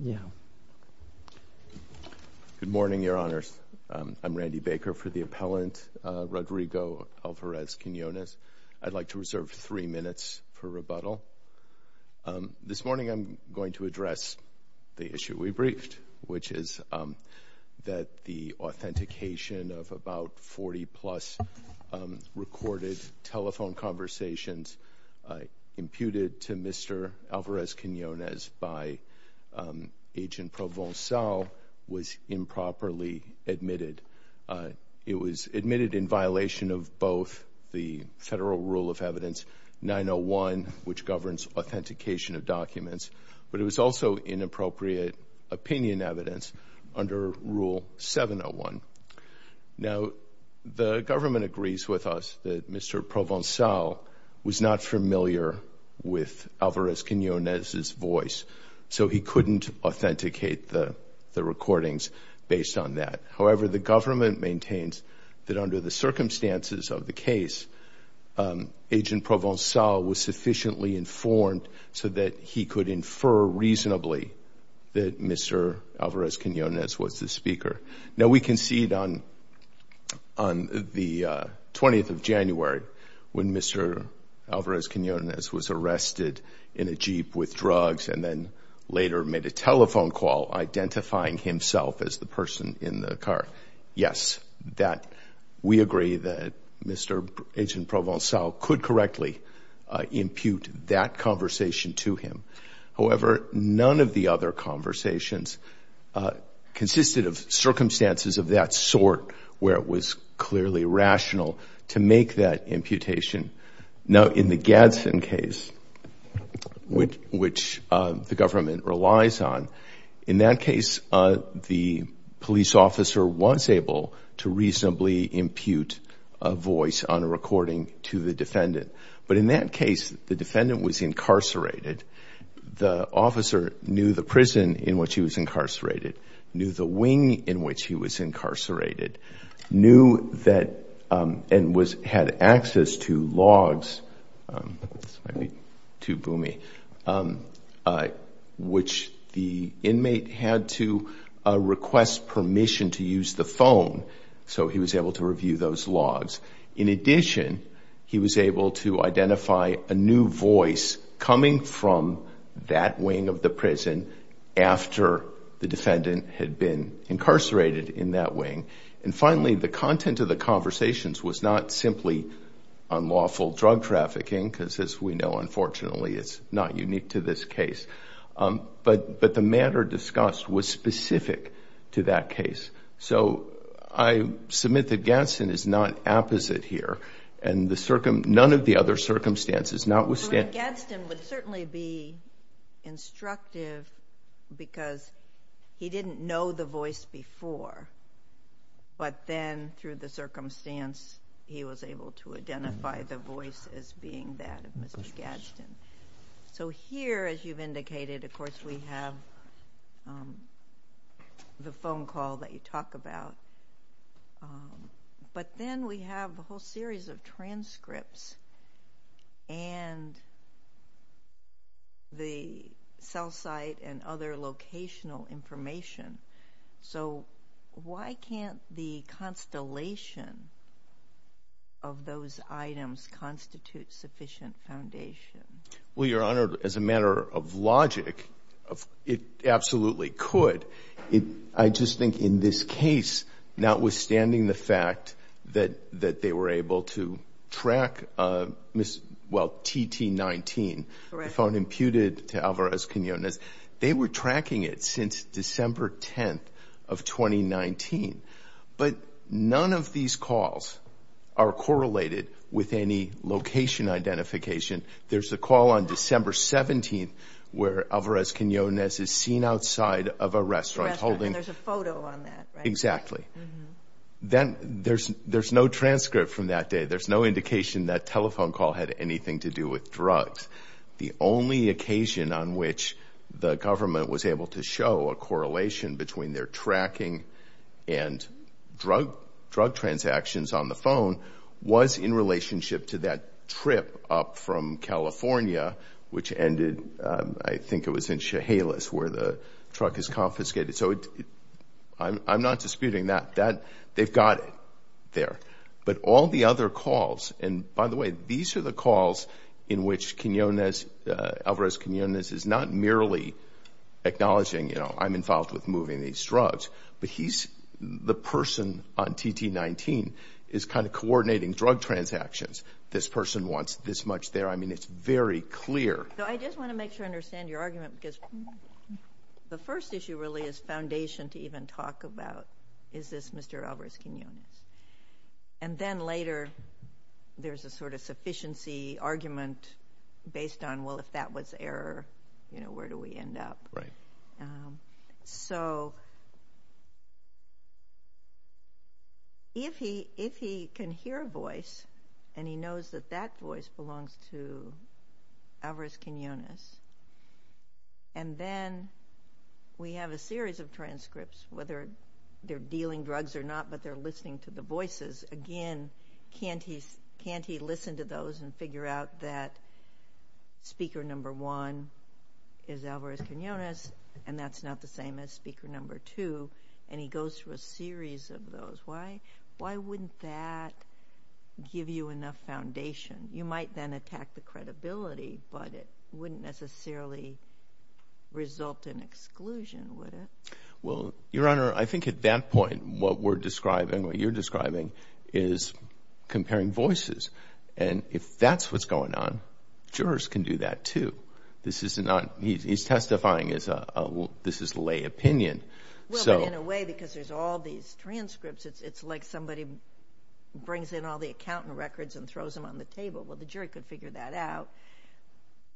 Good morning, Your Honors. I'm Randy Baker for the appellant Rodrigo Alvarez-Quinonez. I'd like to reserve three minutes for rebuttal. This morning I'm going to address the issue we briefed, which is that the authentication of about 40-plus recorded telephone conversations imputed to Mr. Alvarez-Quinonez by Agent Provencal was improperly admitted. It was admitted in violation of both the federal rule of evidence 901, which governs authentication of documents, but it was also inappropriate opinion evidence under rule 701. Now the government agrees with us that Mr. Provencal was not familiar with Alvarez-Quinonez's voice, so he couldn't authenticate the recordings based on that. However, the government maintains that under the circumstances of the case, Agent Provencal was sufficiently informed so that he could infer reasonably that Alvarez-Quinonez was the speaker. Now we concede on the 20th of January when Mr. Alvarez-Quinonez was arrested in a Jeep with drugs and then later made a telephone call identifying himself as the person in the car. Yes, we agree that Mr. Agent Provencal could correctly impute that conversation to him. However, none of the other conversations consisted of circumstances of that sort where it was clearly rational to make that imputation. Now in the Gadsden case, which the government relies on, in that case the police officer was able to reasonably impute a voice on a recording to the The officer knew the prison in which he was incarcerated, knew the wing in which he was incarcerated, knew that and had access to logs, which the inmate had to request permission to use the phone, so he was able to review those logs. In addition, he was able to identify a new voice coming from that wing of the prison after the defendant had been incarcerated in that wing. And finally, the content of the conversations was not simply unlawful drug trafficking, because as we know, unfortunately, it's not unique to this case, but the matter discussed was specific to that case. So I submit that Gadsden is not opposite here and none of the circumstances. Gadsden would certainly be instructive because he didn't know the voice before, but then through the circumstance he was able to identify the voice as being that of Mr. Gadsden. So here, as you've indicated, of course we have the phone call that you talk about, um, but then we have a whole series of transcripts and the cell site and other locational information. So why can't the constellation of those items constitute sufficient foundation? Well, Your Honor, as a matter of logic, it absolutely could. I just think in this case, notwithstanding the fact that they were able to track, well, TT19, the phone imputed to Alvarez-Quinonez, they were tracking it since December 10th of 2019. But none of these calls are correlated with any location identification. There's a call on December 17th where Alvarez-Quinonez is seen outside of a restaurant. A restaurant, and there's a photo on that, right? Exactly. Then there's no transcript from that day. There's no indication that telephone call had anything to do with drugs. The only occasion on which the government was able to show a correlation between their tracking and drug transactions on the phone was in relationship to that trip up from California, which ended, I think it was in Chehalis where the truck is confiscated. So I'm not disputing that. They've got it there. But all the other calls, and by the way, these are the calls in which Alvarez-Quinonez is not merely acknowledging, you know, I'm involved with moving these drugs, but he's the person on TT19 is kind of coordinating drug transactions. This person wants this much there. I mean, it's very clear. So I just want to make sure I understand your argument because the first issue really is foundation to even talk about, is this Mr. Alvarez-Quinonez? And then later there's a sort of sufficiency argument based on, well, if that was error, you know, where do we end up? So if he can hear a voice and he knows that that voice belongs to Alvarez-Quinonez, and then we have a series of transcripts, whether they're dealing drugs or not, but they're listening to the voices, again, can't he listen to those and figure out that speaker number one is Alvarez-Quinonez and that's not the same as speaker number two, and he goes through a series of those? Why wouldn't that give you enough foundation? You might then attack the credibility, but it wouldn't necessarily result in exclusion, would it? Well, Your Honor, I think at that point what we're describing, what you're describing, is comparing voices. And if that's what's going on, jurors can do that too. This is not, he's testifying, this is lay opinion. Well, but in a way, because there's all these transcripts, it's like somebody brings in all the accountant records and throws them on the table. Well, the jury could figure that out,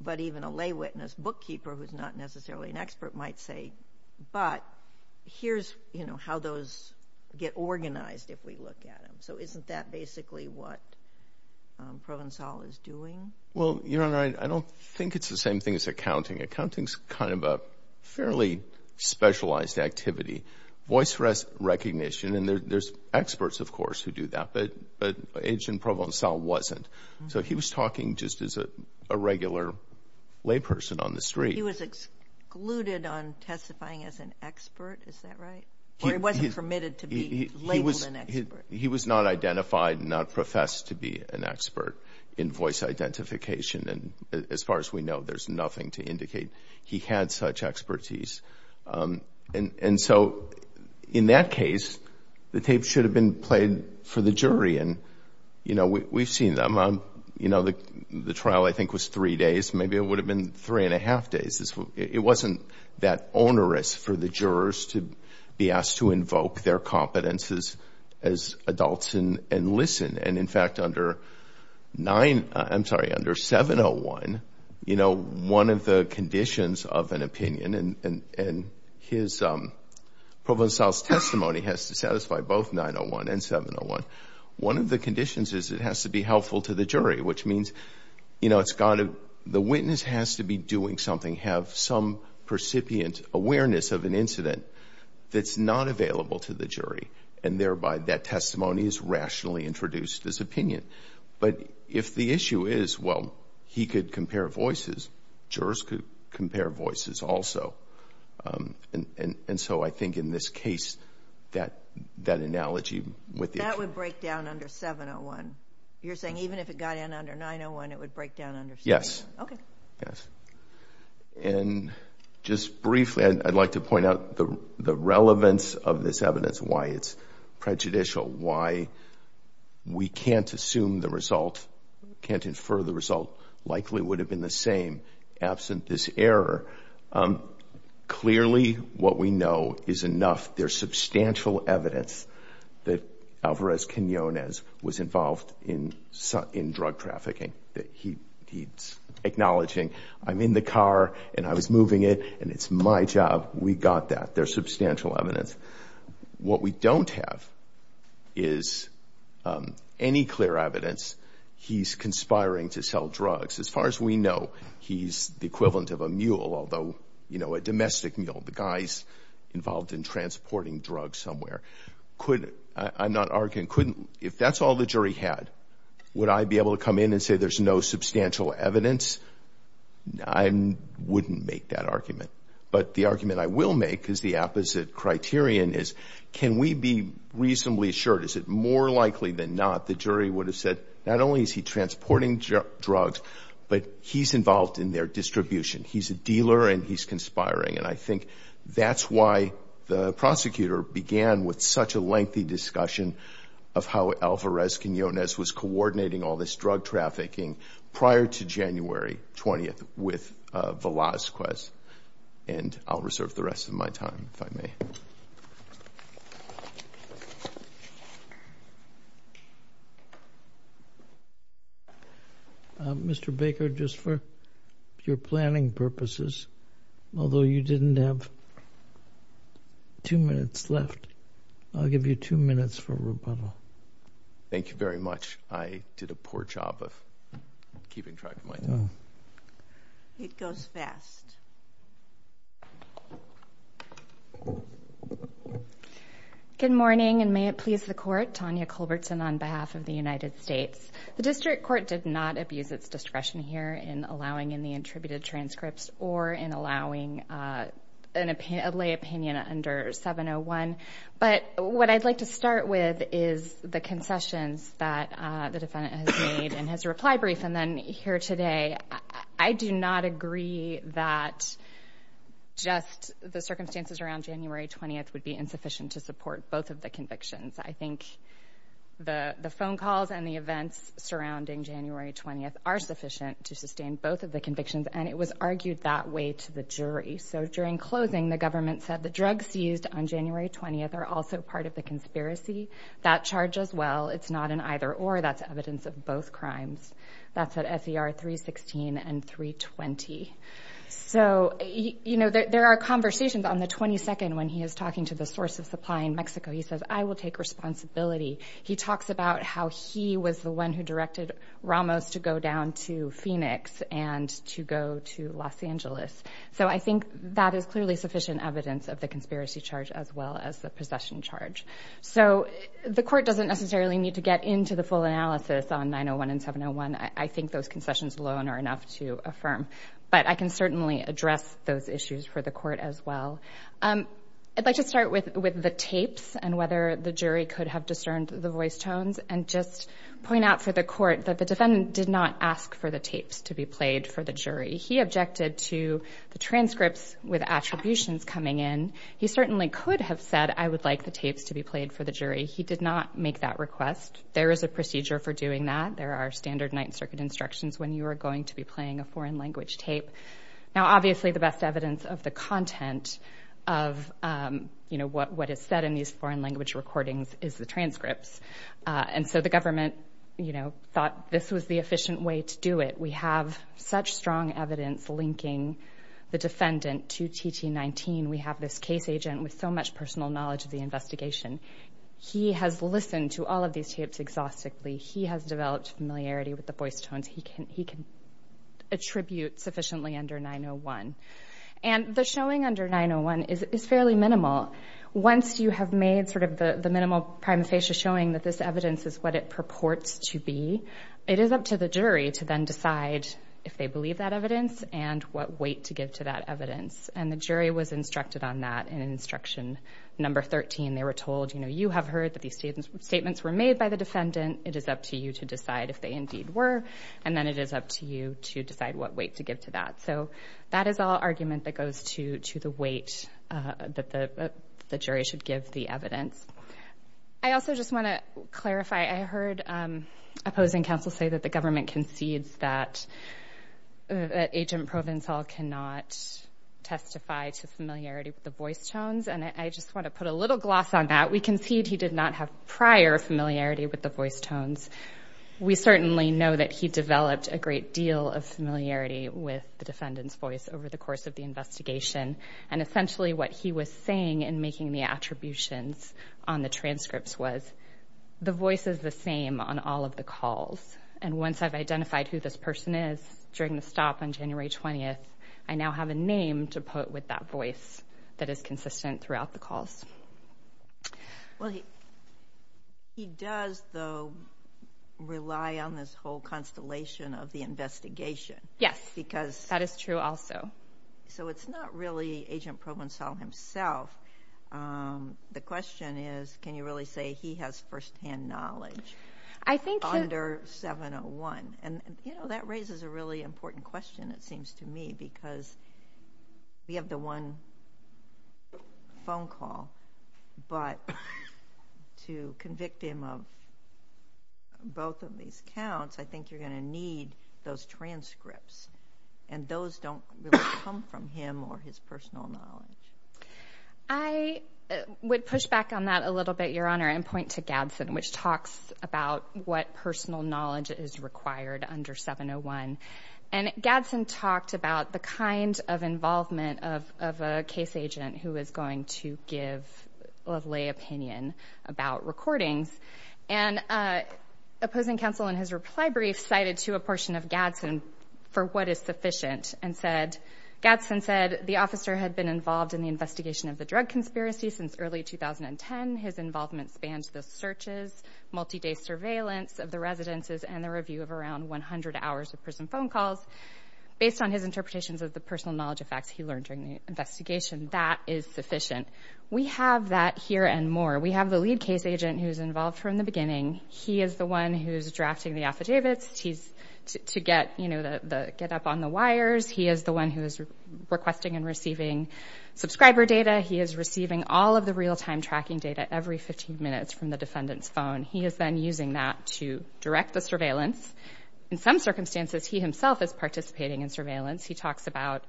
but even a lay witness bookkeeper who's not necessarily an expert might say, but here's, you know, how those get organized if we look at them. So isn't that basically what Provencal is doing? Well, Your Honor, I don't think it's the same thing as accounting. Accounting is kind of a fairly specialized activity. Voice recognition, and there's experts, of course, who do that, but Agent Provencal wasn't. So he was talking just as a regular lay person on the street. He was excluded on testifying as an expert, is that right? Or he wasn't permitted to be labeled an expert? He was not identified and not professed to be an expert in voice identification. And as far as we know, there's nothing to indicate he had such expertise. And so in that case, the tape should have been played for the jury. And, you know, we've seen them. You know, the trial, I think, was three days. Maybe it would have been three and a half days. It wasn't that onerous for the jurors to be asked to invoke their competences as adults and listen. And in fact, under 901, I'm sorry, under 701, you know, one of the conditions of an opinion and Provencal's testimony has to satisfy both 901 and 701. One of the conditions is it has to be have some percipient awareness of an incident that's not available to the jury, and thereby that testimony is rationally introduced as opinion. But if the issue is, well, he could compare voices, jurors could compare voices also. And so I think in this case, that that analogy with that would break down under 701. You're saying even if it got in under 901, it would break down under 701? Yes. Okay. Yes. And just briefly, I'd like to point out the relevance of this evidence, why it's prejudicial, why we can't assume the result, can't infer the result, likely would have been the same absent this error. Clearly, what we know is enough. There's substantial evidence that Alvarez was involved in drug trafficking, that he's acknowledging, I'm in the car and I was moving it, and it's my job. We got that. There's substantial evidence. What we don't have is any clear evidence he's conspiring to sell drugs. As far as we know, he's the equivalent of a mule, although, you know, a domestic mule, the guy's involved in transporting drugs somewhere. Could, I'm not and couldn't, if that's all the jury had, would I be able to come in and say there's no substantial evidence? I wouldn't make that argument. But the argument I will make is the opposite criterion is, can we be reasonably assured? Is it more likely than not, the jury would have said, not only is he transporting drugs, but he's involved in their distribution. He's a dealer and he's conspiring. I think that's why the prosecutor began with such a lengthy discussion of how Alvarez-Quinonez was coordinating all this drug trafficking prior to January 20th with Velazquez. I'll reserve the rest of my time, if I may. Mr. Baker, just for your planning purposes, although you didn't have two minutes left, I'll give you two minutes for rebuttal. Thank you very much. I did a poor job of keeping track of my time. It goes fast. Good morning, and may it please the Court. Tanya Culbertson on behalf of the United States. The District Court did not abuse its discretion here in allowing any attributed transcripts or in allowing a lay opinion under 701. But what I'd like to start with is the concessions that the defendant has made in his reply brief and then here today. I do not agree that just the circumstances around January 20th would be insufficient to support both of the convictions. I think the phone calls and the events surrounding January 20th are sufficient to sustain both of the convictions, and it was argued that way to the jury. During closing, the government said the drugs used on January 20th are also part of the conspiracy. That charge as well. It's not an either-or. That's evidence of both crimes. That's at SER 316 and 320. So, you know, there are conversations on the 22nd when he is talking to the source of supply in Mexico. He says, I will take responsibility. He talks about how he was the one who directed Ramos to go down to Phoenix and to go to Los Angeles. So I think that is clearly sufficient evidence of the conspiracy charge as well as the possession charge. So the court doesn't necessarily need to get into the full analysis on 901 and 701. I think those concessions alone are enough to affirm, but I can certainly address those issues for the court as well. I'd like to start with the tapes and whether the jury could have discerned the voice tones and just point out for the court that the defendant did not ask for the tapes to be played for the jury. He objected to the transcripts with attributions coming in. He certainly could have said, I would like the tapes to be played for the jury. He did not make that request. There is a procedure for doing that. There are standard Ninth Circuit instructions when you are going to be playing a foreign language tape. Now, obviously, the best evidence of the content of, you know, what is said in these foreign language recordings is the transcripts. And so the government, you know, thought this was the efficient way to do it. We have such strong evidence linking the defendant to TT19. We have this case agent with so much personal knowledge of the investigation. He has listened to all of these tapes exhaustively. He has developed familiarity with the voice tones. He can attribute sufficiently under 901. And the showing under 901 is fairly minimal. Once you have made sort of the minimal prima facie showing that this evidence is what it purports to be, it is up to the jury to then decide if they believe that evidence and what weight to give to that evidence. And the jury was instructed on that in instruction number 13. They were told, you know, you have heard that these statements were made by the defendant. It is up to you to decide if they indeed were. And then it is up to you to decide what weight to give to that. So that is all argument that goes to the weight that the jury should give the evidence. I also just want to clarify. I heard opposing counsel say that the government concedes that agent Provencal cannot testify to familiarity with the voice tones. And I just want to put a little gloss on that. We concede he did not have prior familiarity with the voice tones. We certainly know that he developed a great deal of familiarity with the defendant's voice over the course of the investigation. And essentially what he was saying in making the attributions on the transcripts was the voice is the same on all of the calls. And once I have identified who this person is during the stop on January 20th, I now have a name to put with that voice that is consistent throughout the calls. Well, he does, though, rely on this whole constellation of the investigation. Yes, because that is true also. So it is not really agent Provencal himself. The question is, can you really say he has first-hand knowledge under 701? And that raises a really important question, it seems to me, because we have the one phone call. But to convict him of both of these counts, I think you are going to need those transcripts. And those don't really come from him or his personal knowledge. I would push back on that a little bit, Your Honor, and point to Gadsden, which talks about what personal knowledge is required under 701. And Gadsden talked about the kind of involvement of a case agent who is going to give a lay opinion about recordings. And opposing counsel in his reply brief cited to a portion of Gadsden for what is sufficient. And Gadsden said, the officer had been involved in the investigation of the drug conspiracy since early 2010. His involvement spans the searches, multi-day surveillance of the residences, and the review of around 100 hours of prison phone calls. Based on his interpretations of the personal knowledge of facts he learned during the investigation, that is sufficient. We have that here and more. We have the lead case agent who gets up on the wires. He is the one who is requesting and receiving subscriber data. He is receiving all of the real-time tracking data every 15 minutes from the defendant's phone. He is then using that to direct the surveillance. In some circumstances, he himself is participating in surveillance. He talks about,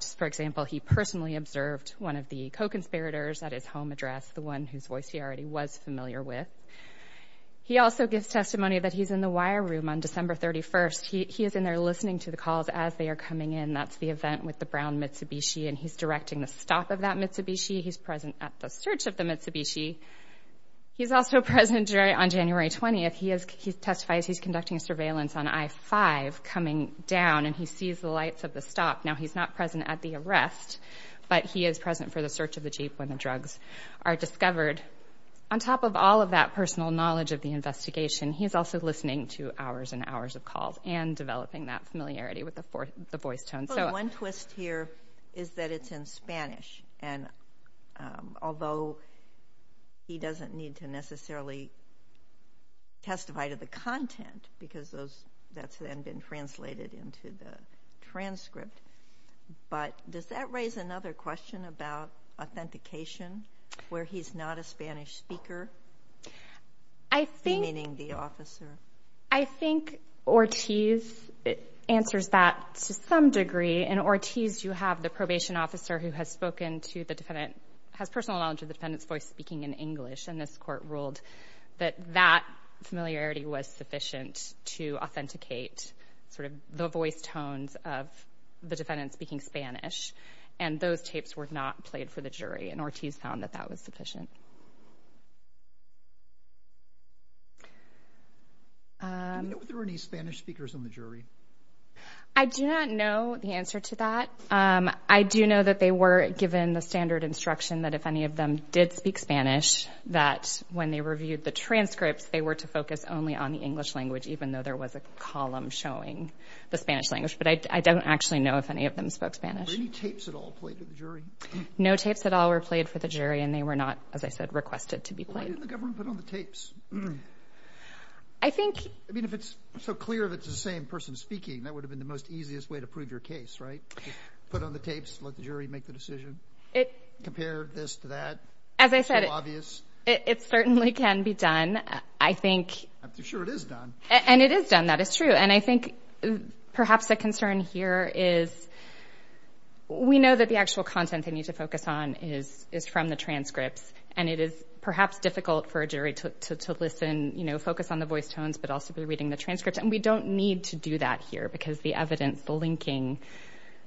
just for example, he personally observed one of the co-conspirators at his home address, the one whose voice he already was familiar with. He also gives testimony that he's in the wire room on December 31st. He is in there listening to the calls as they are coming in. That's the event with the brown Mitsubishi, and he's directing the stop of that Mitsubishi. He's present at the search of the Mitsubishi. He's also present on January 20th. He testifies he's conducting surveillance on I-5 coming down, and he sees the lights of the stop. Now, he's not present at the arrest, but he is present for the knowledge of the investigation. He's also listening to hours and hours of calls and developing that familiarity with the voice tone. One twist here is that it's in Spanish, and although he doesn't need to necessarily testify to the content, because that's then been translated into the transcript, but does that raise another question about authentication, where he's not a Spanish speaker, meaning the officer? I think Ortiz answers that to some degree. In Ortiz, you have the probation officer who has personal knowledge of the defendant's voice speaking in English, and this court ruled that that familiarity was sufficient to authenticate the voice tones of the defendant speaking Spanish, and those tapes were not played for the jury, and Ortiz found that that was sufficient. Were there any Spanish speakers on the jury? I do not know the answer to that. I do know that they were given the standard instruction that if any of them did speak Spanish, that when they reviewed the transcripts, they were to focus only on the English language, even though there was a column showing the Spanish language, but I don't actually know any of them spoke Spanish. Were any tapes at all played for the jury? No tapes at all were played for the jury, and they were not, as I said, requested to be played. Why didn't the government put on the tapes? I think... I mean, if it's so clear that it's the same person speaking, that would have been the most easiest way to prove your case, right? Put on the tapes, let the jury make the decision, compare this to that. As I said, it certainly can be done. I think... I'm sure it is done. And it is done, that is true, and I think perhaps the concern here is we know that the actual content they need to focus on is from the transcripts, and it is perhaps difficult for a jury to listen, you know, focus on the voice tones, but also be reading the transcripts, and we don't need to do that here because the evidence, the linking,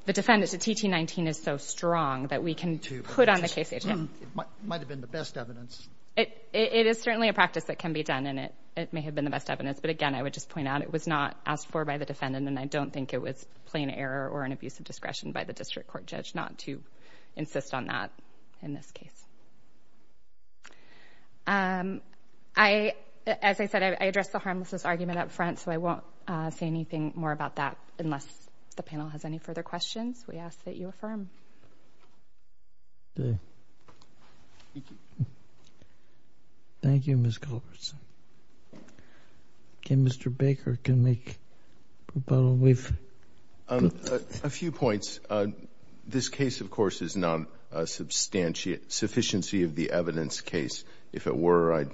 the defendant to TT19 is so strong that we can put on the case... It might have been the best evidence. It is certainly a practice that can be done, and it may have been the best evidence, but again, I would just point out it was not asked for by the defendant, and I don't think it was plain error or an abuse of discretion by the district court judge not to insist on that in this case. As I said, I addressed the harmlessness argument up front, so I won't say anything more about that unless the panel has any further questions. We ask that you affirm. Thank you. Thank you, Ms. Culbertson. Okay, Mr. Baker, can we... A few points. This case, of course, is not a sufficiency of the evidence case. If it were, I'd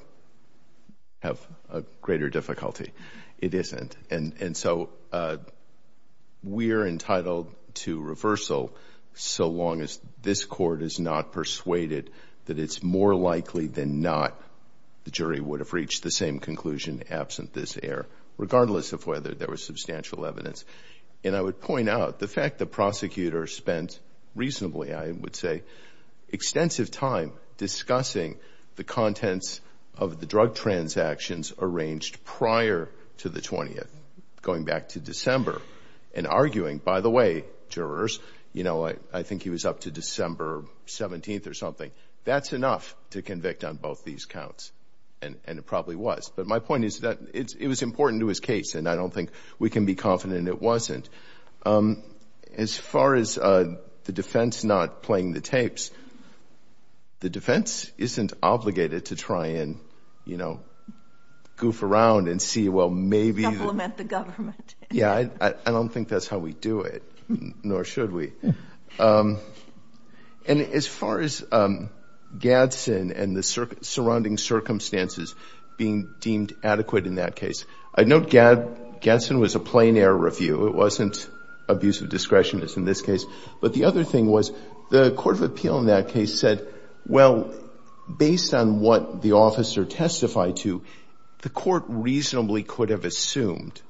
have a greater difficulty. It isn't, and so we are entitled to reversal so long as this court is not persuaded that it's more likely than not the jury would have reached the same conclusion absent this error, regardless of whether there was substantial evidence, and I would point out the fact the prosecutor spent reasonably, I would say, extensive time discussing the contents of the drug transactions arranged prior to the 20th, going back to December and arguing, by the way, jurors, I think he was up to December 17th or something. That's enough to convict on both these counts, and it probably was, but my point is that it was important to his case, and I don't think we can be confident it wasn't. As far as the defense not playing the tapes, the defense isn't obligated to try and goof around and see, well, maybe... Complement the government. Yeah, I don't think that's how we do it, nor should we, and as far as Gadsden and the surrounding circumstances being deemed adequate in that case, I note Gadsden was a plain error review. It wasn't abuse of discretion as in this case, but the other thing was the court of appeal in that case said, well, based on what the officer testified to, the court reasonably could have assumed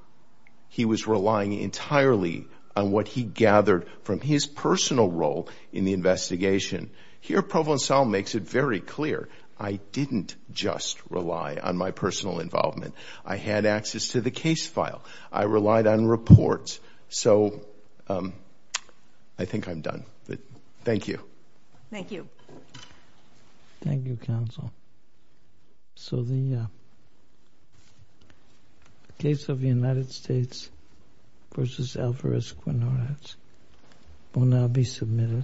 he was relying entirely on what he gathered from his personal role in the investigation. Here, Provencal makes it very clear. I didn't just rely on my personal involvement. I had access to Thank you. Thank you, counsel. So the case of the United States versus Alvarez-Quinonez will now be submitted.